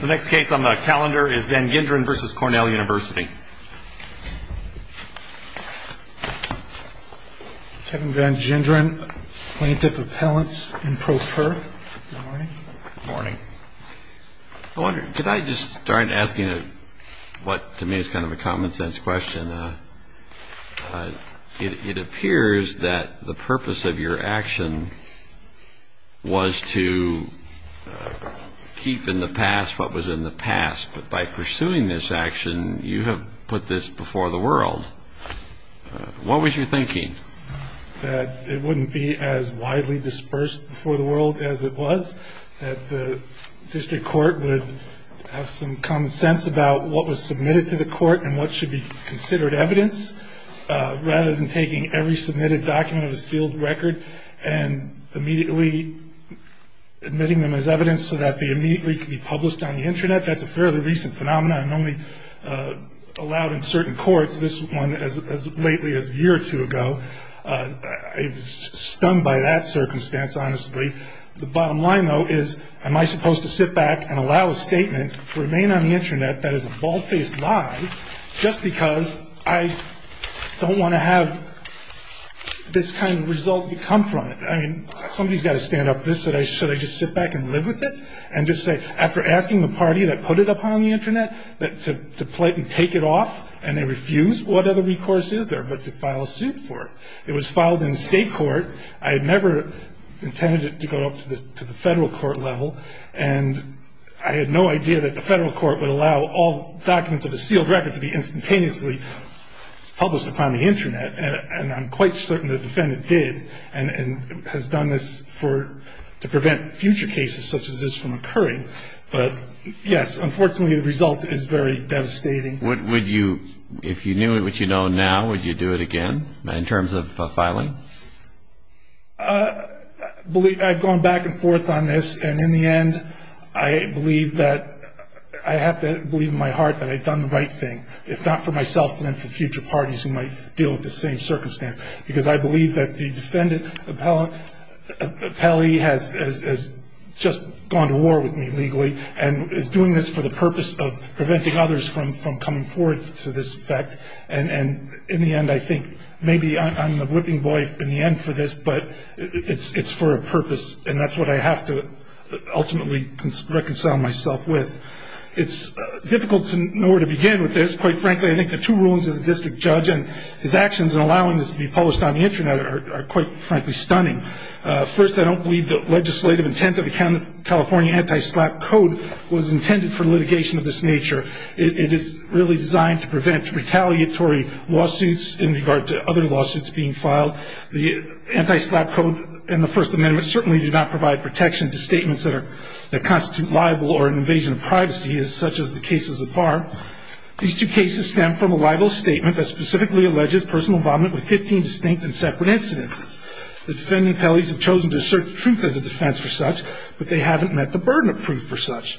The next case on the calendar is Vanginderen v. Cornell University. Kevin Vanginderen, Plaintiff Appellant in pro per. Good morning. Good morning. I wonder, could I just start asking what to me is kind of a common sense question? It appears that the purpose of your action was to keep in the past what was in the past. But by pursuing this action, you have put this before the world. What was your thinking? That it wouldn't be as widely dispersed before the world as it was. That the district court would have some common sense about what was submitted to the court and what should be considered evidence, rather than taking every submitted document of a sealed record and immediately admitting them as evidence so that they immediately can be published on the Internet. That's a fairly recent phenomenon and only allowed in certain courts. This one as lately as a year or two ago. I was stung by that circumstance, honestly. The bottom line, though, is am I supposed to sit back and allow a statement to remain on the Internet that is a bald-faced lie just because I don't want to have this kind of result come from it? I mean, somebody's got to stand up for this. Should I just sit back and live with it? And just say, after asking the party that put it up on the Internet to politely take it off and they refused, what other recourse is there but to file a suit for it? It was filed in state court. I had never intended it to go up to the federal court level. And I had no idea that the federal court would allow all documents of a sealed record to be instantaneously published upon the Internet. And I'm quite certain the defendant did and has done this to prevent future cases such as this from occurring. But, yes, unfortunately the result is very devastating. If you knew what you know now, would you do it again in terms of filing? I've gone back and forth on this. And in the end, I believe that I have to believe in my heart that I've done the right thing, if not for myself, then for future parties who might deal with the same circumstance. Because I believe that the defendant, Pelly, has just gone to war with me legally and is doing this for the purpose of preventing others from coming forward to this effect. And in the end, I think maybe I'm the whipping boy in the end for this, but it's for a purpose. And that's what I have to ultimately reconcile myself with. It's difficult to know where to begin with this. Quite frankly, I think the two rulings of the district judge and his actions in allowing this to be published on the Internet are, quite frankly, stunning. First, I don't believe the legislative intent of the California Anti-SLAPP Code was intended for litigation of this nature. It is really designed to prevent retaliatory lawsuits in regard to other lawsuits being filed. The Anti-SLAPP Code and the First Amendment certainly do not provide protection to statements that constitute libel or an invasion of privacy, such as the cases of Barr. These two cases stem from a libel statement that specifically alleges personal vomit with 15 distinct and separate incidences. The defendant and Pelly have chosen to assert the truth as a defense for such, but they haven't met the burden of proof for such.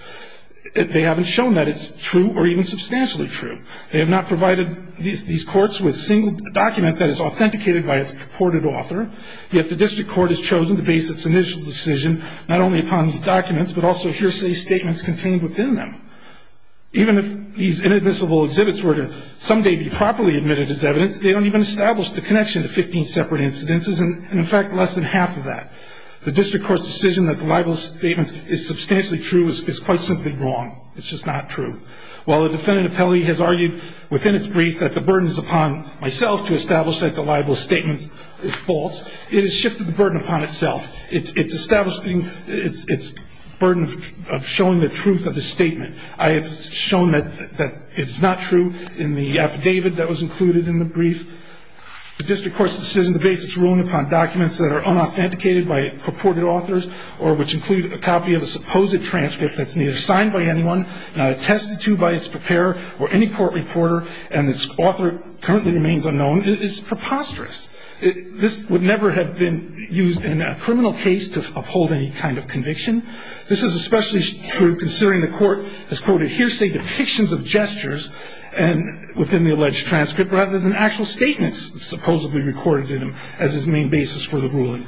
They haven't shown that it's true or even substantially true. They have not provided these courts with a single document that is authenticated by its purported author, yet the district court has chosen to base its initial decision not only upon these documents, but also hearsay statements contained within them. Even if these inadmissible exhibits were to someday be properly admitted as evidence, they don't even establish the connection to 15 separate incidences and, in fact, less than half of that. The district court's decision that the libel statement is substantially true is quite simply wrong. It's just not true. While the defendant, Pelly, has argued within its brief that the burden is upon myself to establish that the libel statement is false, it has shifted the burden upon itself. It's establishing its burden of showing the truth of the statement. I have shown that it's not true in the affidavit that was included in the brief. The district court's decision to base its ruling upon documents that are unauthenticated by purported authors or which include a copy of a supposed transcript that's neither signed by anyone, not attested to by its preparer or any court reporter, and its author currently remains unknown, is preposterous. This would never have been used in a criminal case to uphold any kind of conviction. This is especially true considering the court has quoted hearsay depictions of gestures within the alleged transcript rather than actual statements supposedly recorded in them as its main basis for the ruling.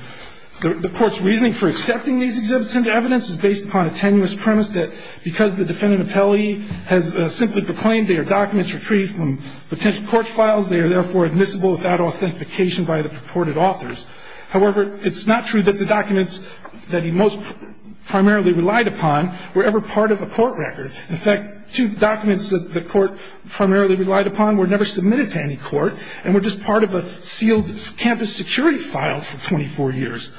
The court's reasoning for accepting these exhibits into evidence is based upon a tenuous premise that because the defendant, Pelly, has simply proclaimed they are documents retrieved from potential court files, they are therefore admissible without authentication by the purported authors. However, it's not true that the documents that he most primarily relied upon were ever part of a court record. In fact, two documents that the court primarily relied upon were never submitted to any court and were just part of a sealed campus security file for 24 years.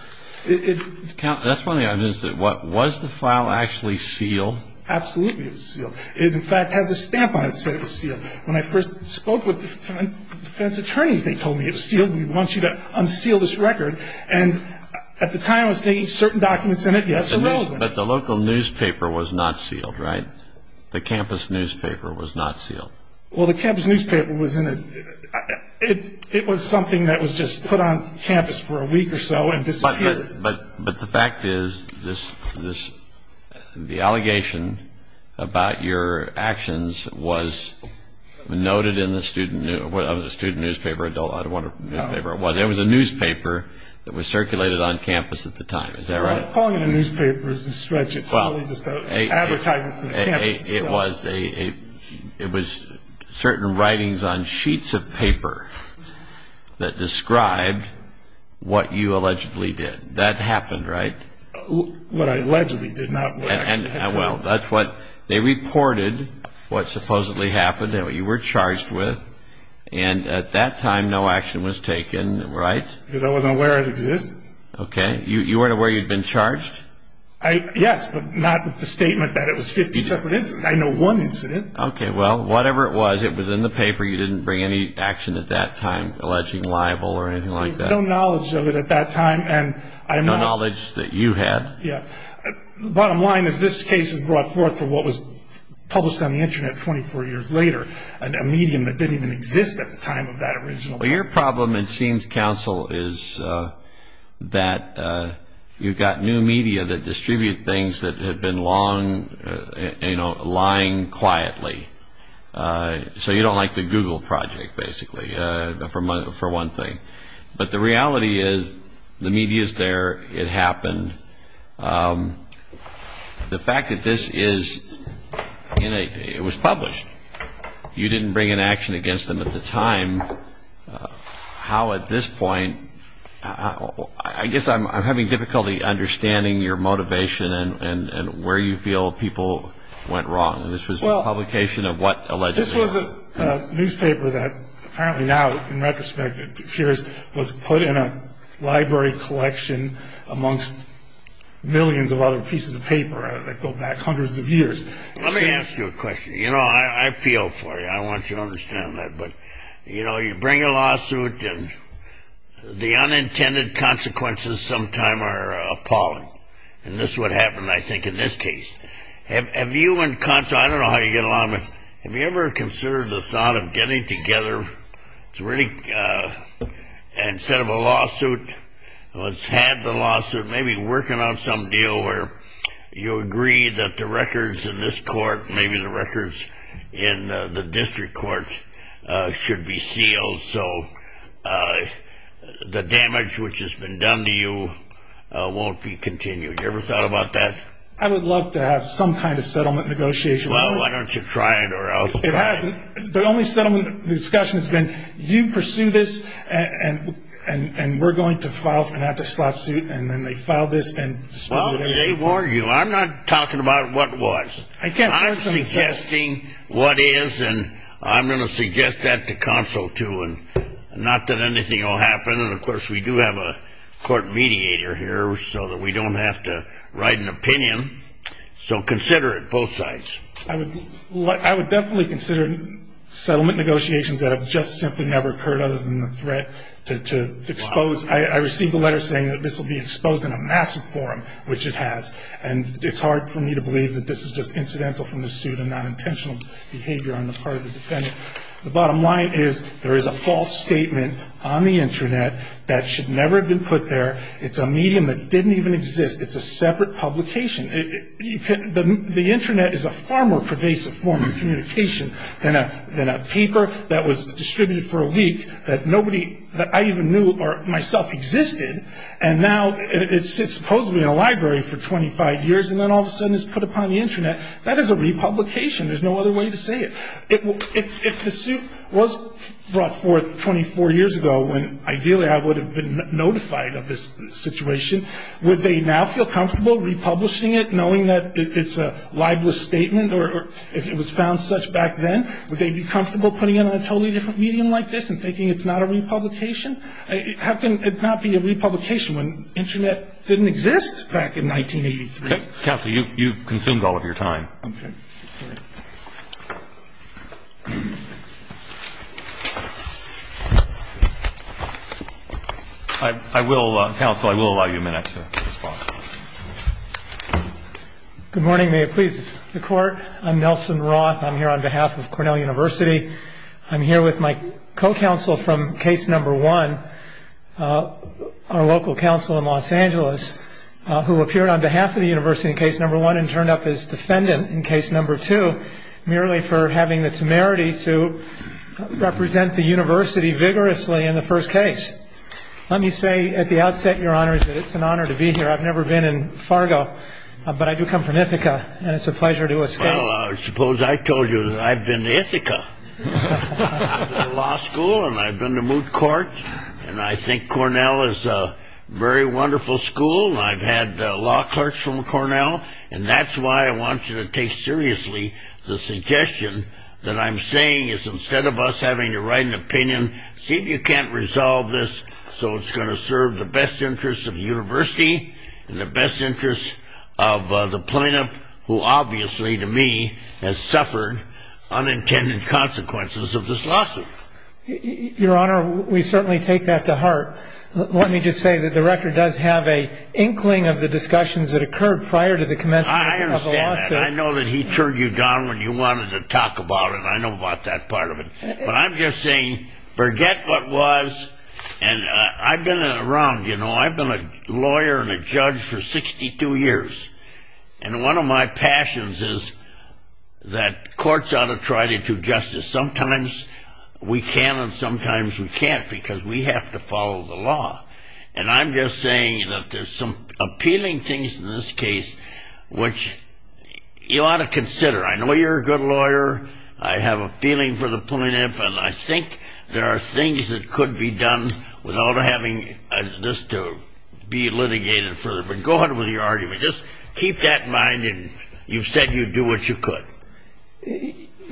That's one of the arguments. What, was the file actually sealed? Absolutely it was sealed. It, in fact, has a stamp on it saying it was sealed. When I first spoke with the defense attorneys, they told me it was sealed. We want you to unseal this record. And at the time I was thinking certain documents in it, yes, are relevant. But the local newspaper was not sealed, right? The campus newspaper was not sealed. Well, the campus newspaper was in a, it was something that was just put on campus for a week or so and disappeared. But the fact is this, the allegation about your actions was noted in the student, was it a student newspaper, adult, I don't want to, newspaper, it wasn't. It was a newspaper that was circulated on campus at the time, is that right? Well, calling it a newspaper is a stretch. It's only just an advertisement for the campus itself. It was a, it was certain writings on sheets of paper that described what you allegedly did. That happened, right? What I allegedly did not do. Well, that's what, they reported what supposedly happened, what you were charged with, and at that time no action was taken, right? Because I wasn't aware it existed. Okay, you weren't aware you'd been charged? I, yes, but not with the statement that it was 50 separate incidents. I know one incident. Okay, well, whatever it was, it was in the paper. You didn't bring any action at that time alleging libel or anything like that? No knowledge of it at that time, and I'm not. No knowledge that you had? Yeah. Bottom line is this case is brought forth for what was published on the Internet 24 years later, a medium that didn't even exist at the time of that original. Well, your problem, it seems, Counsel, is that you've got new media that distribute things that have been long, you know, lying quietly. So you don't like the Google project, basically, for one thing. But the reality is the media is there. It happened. The fact that this is in a, it was published. You didn't bring an action against them at the time. How, at this point, I guess I'm having difficulty understanding your motivation and where you feel people went wrong. This was a publication of what allegedly? This was a newspaper that apparently now, in retrospect, was put in a library collection amongst millions of other pieces of paper that go back hundreds of years. Let me ask you a question. You know, I feel for you. I want you to understand that. But, you know, you bring a lawsuit, and the unintended consequences sometime are appalling. And this is what happened, I think, in this case. Have you and Counsel, I don't know how you get along, but have you ever considered the thought of getting together to really, instead of a lawsuit, let's have the lawsuit, maybe working out some deal where you agree that the records in this court, maybe the records in the district court, should be sealed so the damage which has been done to you won't be continued. Have you ever thought about that? I would love to have some kind of settlement negotiation. Well, why don't you try it or I'll try it. The only settlement discussion has been you pursue this, and we're going to file for an anti-slop suit, and then they file this. Well, let me warn you, I'm not talking about what was. I'm suggesting what is, and I'm going to suggest that to Counsel, too, and not that anything will happen. And, of course, we do have a court mediator here so that we don't have to write an opinion. So consider it, both sides. I would definitely consider settlement negotiations that have just simply never occurred other than the threat to expose. I received a letter saying that this will be exposed in a massive forum, which it has, and it's hard for me to believe that this is just incidental from the suit and not intentional behavior on the part of the defendant. The bottom line is there is a false statement on the Internet that should never have been put there. It's a medium that didn't even exist. It's a separate publication. The Internet is a far more pervasive form of communication than a paper that was distributed for a week that nobody that I even knew or myself existed, and now it sits supposedly in a library for 25 years and then all of a sudden is put upon the Internet. That is a republication. There's no other way to say it. If the suit was brought forth 24 years ago when ideally I would have been notified of this situation, would they now feel comfortable republishing it knowing that it's a libelous statement or if it was found such back then, would they be comfortable putting it on a totally different medium like this and thinking it's not a republication? How can it not be a republication when Internet didn't exist back in 1983? Counsel, you've consumed all of your time. Okay. I will, Counsel, I will allow you a minute to respond. Good morning. May it please the Court. I'm Nelson Roth. I'm here on behalf of Cornell University. I'm here with my co-counsel from Case No. 1, our local counsel in Los Angeles, who appeared on behalf of the university in Case No. 1 and turned up as defendant in Case No. 2 merely for having the temerity to represent the university vigorously in the first case. Let me say at the outset, Your Honors, that it's an honor to be here. I've never been in Fargo, but I do come from Ithaca, and it's a pleasure to escape. Well, I suppose I told you that I've been to Ithaca. I've been to law school, and I've been to moot court, and I think Cornell is a very wonderful school. I've had law clerks from Cornell, and that's why I want you to take seriously the suggestion that I'm saying, is instead of us having to write an opinion, see if you can't resolve this so it's going to serve the best interests of the university and the best interests of the plaintiff, who obviously, to me, has suffered unintended consequences of this lawsuit. Your Honor, we certainly take that to heart. Let me just say that the record does have an inkling of the discussions that occurred prior to the commencement of the lawsuit. I understand that. I know that he turned you down when you wanted to talk about it. I know about that part of it. But I'm just saying, forget what was, and I've been around, you know. I've been a lawyer and a judge for 62 years. And one of my passions is that courts ought to try to do justice. Sometimes we can, and sometimes we can't, because we have to follow the law. And I'm just saying that there's some appealing things in this case which you ought to consider. I know you're a good lawyer. I have a feeling for the plaintiff, and I think there are things that could be done without having this to be litigated further. But go ahead with your argument. Just keep that in mind, and you've said you'd do what you could.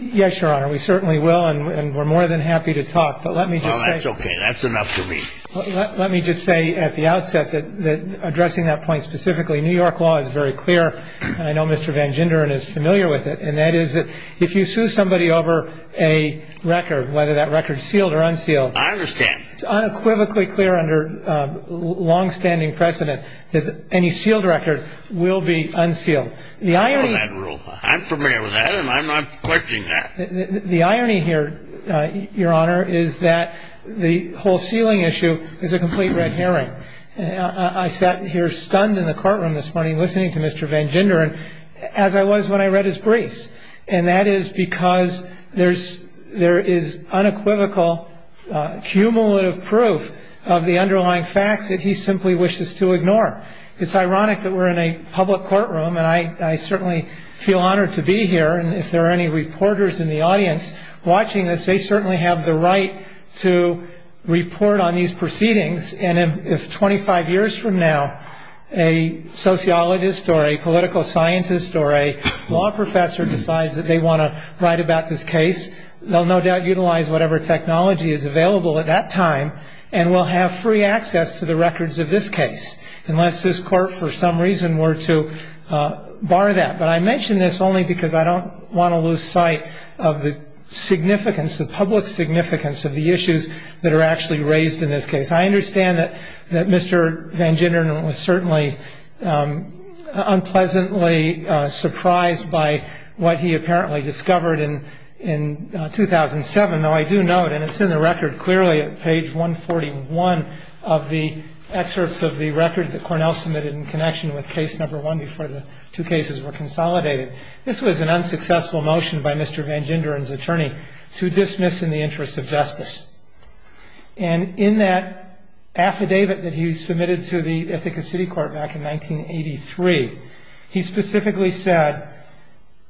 Yes, Your Honor, we certainly will, and we're more than happy to talk. But let me just say. Well, that's okay. That's enough for me. Let me just say at the outset that addressing that point specifically, New York law is very clear, and I know Mr. Van Genderen is familiar with it, and that is that if you sue somebody over a record, whether that record's sealed or unsealed. I understand. It's unequivocally clear under longstanding precedent that any sealed record will be unsealed. I'm familiar with that rule. I'm familiar with that, and I'm not questioning that. The irony here, Your Honor, is that the whole sealing issue is a complete red herring. I sat here stunned in the courtroom this morning listening to Mr. Van Genderen as I was when I read his briefs, and that is because there is unequivocal cumulative proof of the underlying facts that he simply wishes to ignore. It's ironic that we're in a public courtroom, and I certainly feel honored to be here, and if there are any reporters in the audience watching this, they certainly have the right to report on these proceedings, and if 25 years from now a sociologist or a political scientist or a law professor decides that they want to write about this case, they'll no doubt utilize whatever technology is available at that time and will have free access to the records of this case unless this Court for some reason were to bar that. But I mention this only because I don't want to lose sight of the significance, the public significance of the issues that are actually raised in this case. I understand that Mr. Van Genderen was certainly unpleasantly surprised by what he apparently discovered in 2007, though I do note, and it's in the record clearly at page 141 of the excerpts of the record that Cornell submitted in connection with case number one before the two cases were consolidated, this was an unsuccessful motion by Mr. Van Genderen's attorney to dismiss in the interest of justice. And in that affidavit that he submitted to the Ithaca City Court back in 1983, he specifically said,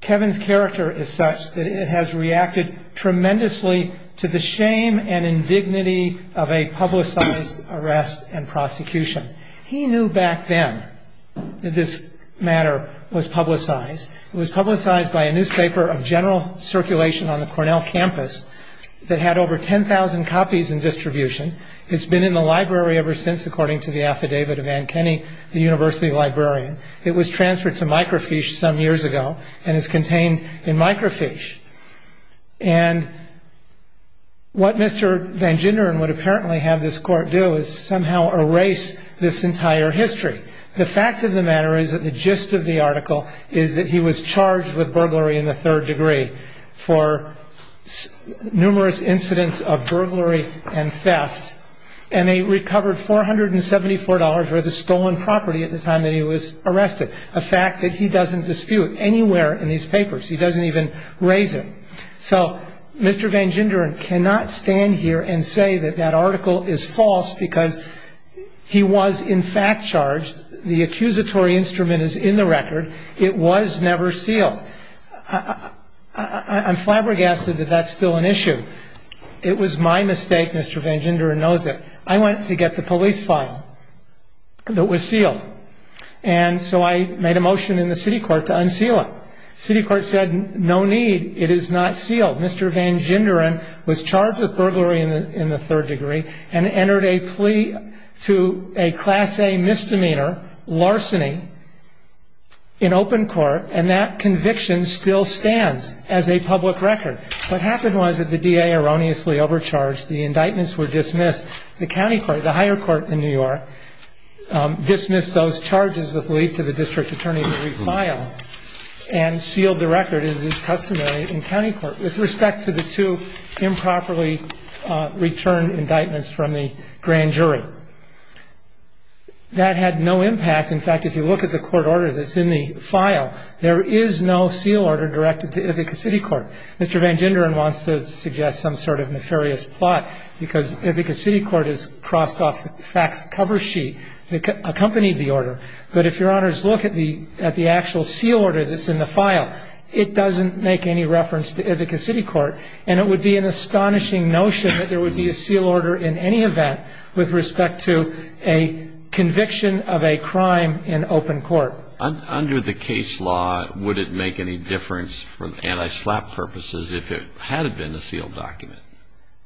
Kevin's character is such that it has reacted tremendously to the shame and indignity of a publicized arrest and prosecution. He knew back then that this matter was publicized. It was publicized by a newspaper of general circulation on the Cornell campus that had over 10,000 copies in distribution. It's been in the library ever since, according to the affidavit of Ann Kenny, the university librarian. It was transferred to microfiche some years ago and is contained in microfiche. And what Mr. Van Genderen would apparently have this Court do is somehow erase this entire history. The fact of the matter is that the gist of the article is that he was charged with burglary in the third degree for numerous incidents of burglary and theft, and they recovered $474 worth of stolen property at the time that he was arrested, a fact that he doesn't dispute anywhere in these papers. He doesn't even raise it. So Mr. Van Genderen cannot stand here and say that that article is false because he was in fact charged. The accusatory instrument is in the record. It was never sealed. I'm flabbergasted that that's still an issue. It was my mistake, Mr. Van Genderen knows it. I went to get the police file that was sealed, and so I made a motion in the city court to unseal it. City court said no need, it is not sealed. Mr. Van Genderen was charged with burglary in the third degree and entered a plea to a Class A misdemeanor, larceny, in open court, and that conviction still stands as a public record. What happened was that the DA erroneously overcharged. The indictments were dismissed. The county court, the higher court in New York, dismissed those charges with lead to the district attorney to refile. And sealed the record as is customary in county court with respect to the two improperly returned indictments from the grand jury. That had no impact. In fact, if you look at the court order that's in the file, there is no seal order directed to Ithaca City Court. Mr. Van Genderen wants to suggest some sort of nefarious plot because Ithaca City Court has crossed off the facts cover sheet that accompanied the order. But if your honors look at the actual seal order that's in the file, it doesn't make any reference to Ithaca City Court. And it would be an astonishing notion that there would be a seal order in any event with respect to a conviction of a crime in open court. Under the case law, would it make any difference for anti-SLAPP purposes if it had been a sealed document?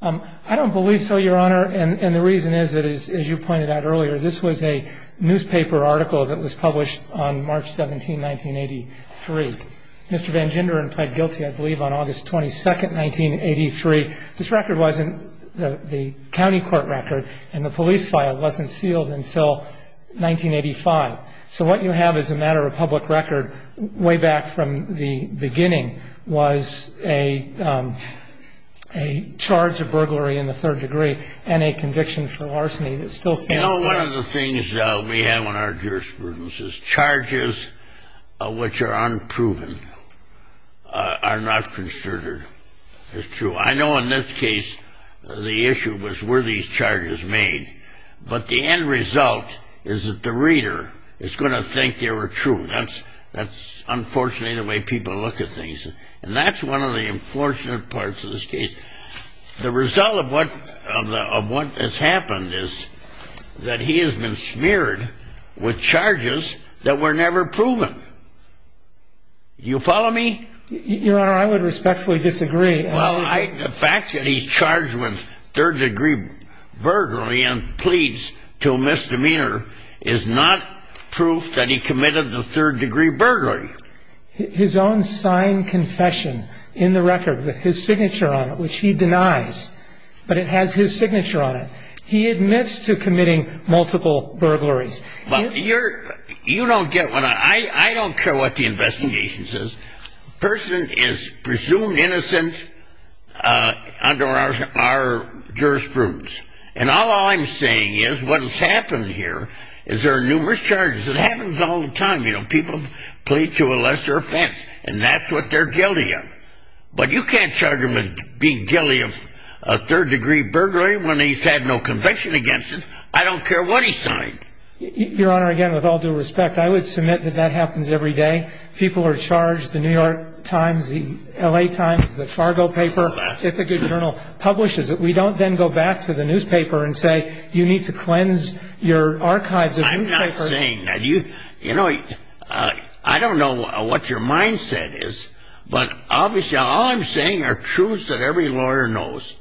I don't believe so, your honor. And the reason is, as you pointed out earlier, this was a newspaper article that was published on March 17, 1983. Mr. Van Genderen pled guilty, I believe, on August 22, 1983. This record wasn't the county court record, and the police file wasn't sealed until 1985. So what you have is a matter of public record way back from the beginning was a charge of burglary in the third degree and a conviction for arsony that still stands today. You know, one of the things we have in our jurisprudence is charges which are unproven are not considered true. I know in this case the issue was were these charges made, but the end result is that the reader is going to think they were true. That's unfortunately the way people look at things. And that's one of the unfortunate parts of this case. The result of what has happened is that he has been smeared with charges that were never proven. Do you follow me? Your honor, I would respectfully disagree. Well, the fact that he's charged with third degree burglary and pleads to misdemeanor is not proof that he committed the third degree burglary. His own signed confession in the record with his signature on it, which he denies, but it has his signature on it. He admits to committing multiple burglaries. You don't get what I don't care what the investigation says. The person is presumed innocent under our jurisprudence. And all I'm saying is what has happened here is there are numerous charges. It happens all the time. You know, people plead to a lesser offense, and that's what they're guilty of. But you can't charge him with being guilty of a third degree burglary when he's had no conviction against it. I don't care what he signed. Your honor, again, with all due respect, I would submit that that happens every day. People are charged. The New York Times, the L.A. Times, the Fargo paper, if a good journal publishes it. We don't then go back to the newspaper and say you need to cleanse your archives of newspapers. I'm not saying that. You know, I don't know what your mindset is, but obviously all I'm saying are truths that every lawyer knows.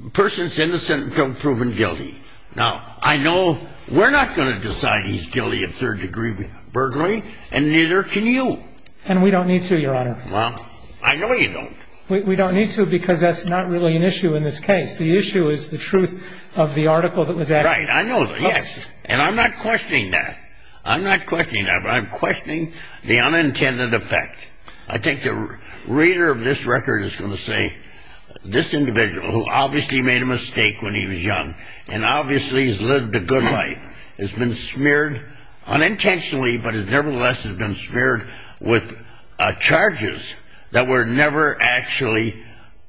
The person is innocent until proven guilty. Now, I know we're not going to decide he's guilty of third degree burglary, and neither can you. And we don't need to, your honor. Well, I know you don't. We don't need to because that's not really an issue in this case. The issue is the truth of the article that was added. Right. I know that, yes. And I'm not questioning that. I'm not questioning that, but I'm questioning the unintended effect. I think the reader of this record is going to say this individual, who obviously made a mistake when he was young and obviously has lived a good life, has been smeared unintentionally, but nevertheless has been smeared with charges that were never actually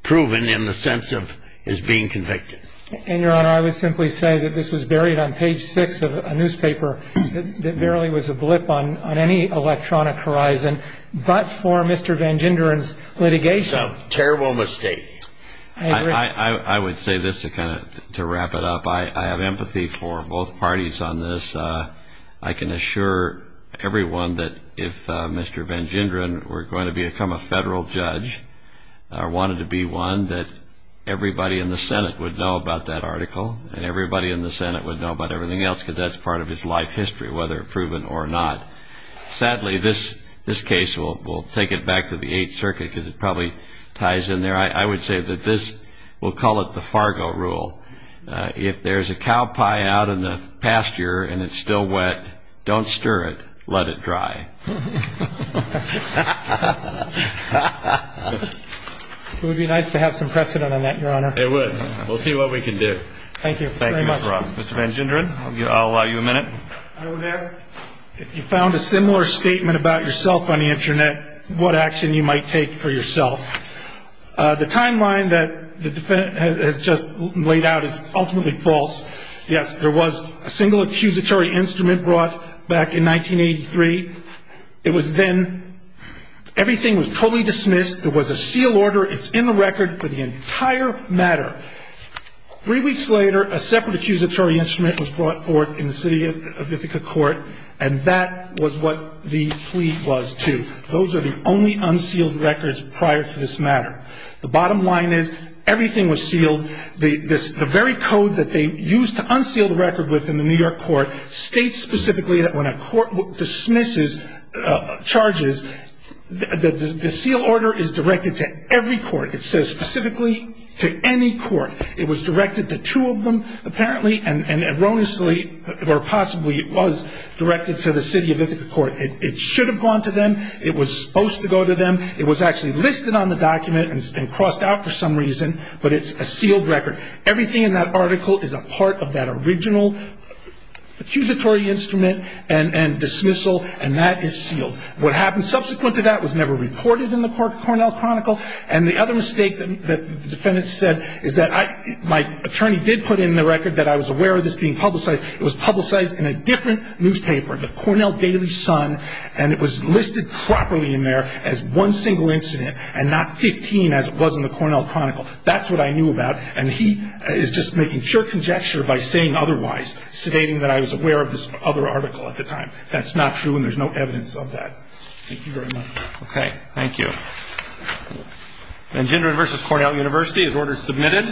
proven in the sense of his being convicted. And, your honor, I would simply say that this was buried on page six of a newspaper that barely was a blip on any electronic horizon, but for Mr. Van Genderen's litigation. It's a terrible mistake. I agree. I would say this to kind of wrap it up. I have empathy for both parties on this. I can assure everyone that if Mr. Van Genderen were going to become a federal judge or wanted to be one, that everybody in the Senate would know about that article and everybody in the Senate would know about everything else because that's part of his life history, whether proven or not. Sadly, this case, we'll take it back to the Eighth Circuit because it probably ties in there. I would say that this, we'll call it the Fargo rule. If there's a cow pie out in the pasture and it's still wet, don't stir it. Let it dry. It would be nice to have some precedent on that, your honor. It would. We'll see what we can do. Thank you very much. Thank you, Mr. Roth. Mr. Van Genderen, I'll allow you a minute. I would ask if you found a similar statement about yourself on the Internet, what action you might take for yourself. The timeline that the defendant has just laid out is ultimately false. Yes, there was a single accusatory instrument brought back in 1983. It was then, everything was totally dismissed. There was a seal order. It's in the record for the entire matter. Three weeks later, a separate accusatory instrument was brought forth in the City of Ithaca Court, and that was what the plea was to. Those are the only unsealed records prior to this matter. The bottom line is, everything was sealed. The very code that they used to unseal the record within the New York court states specifically that when a court dismisses charges, the seal order is directed to every court. It says specifically to any court. It was directed to two of them, apparently, and erroneously, or possibly it was directed to the City of Ithaca Court. It should have gone to them. It was supposed to go to them. It was actually listed on the document and crossed out for some reason, but it's a sealed record. Everything in that article is a part of that original accusatory instrument and dismissal, and that is sealed. What happened subsequent to that was never reported in the Cornell Chronicle, and the other mistake that the defendant said is that my attorney did put in the record that I was aware of this being publicized. It was publicized in a different newspaper, the Cornell Daily Sun, and it was listed properly in there as one single incident and not 15 as it was in the Cornell Chronicle. That's what I knew about, and he is just making pure conjecture by saying otherwise, stating that I was aware of this other article at the time. That's not true, and there's no evidence of that. Thank you very much. Okay, thank you. Vengendron v. Cornell University is ordered submitted.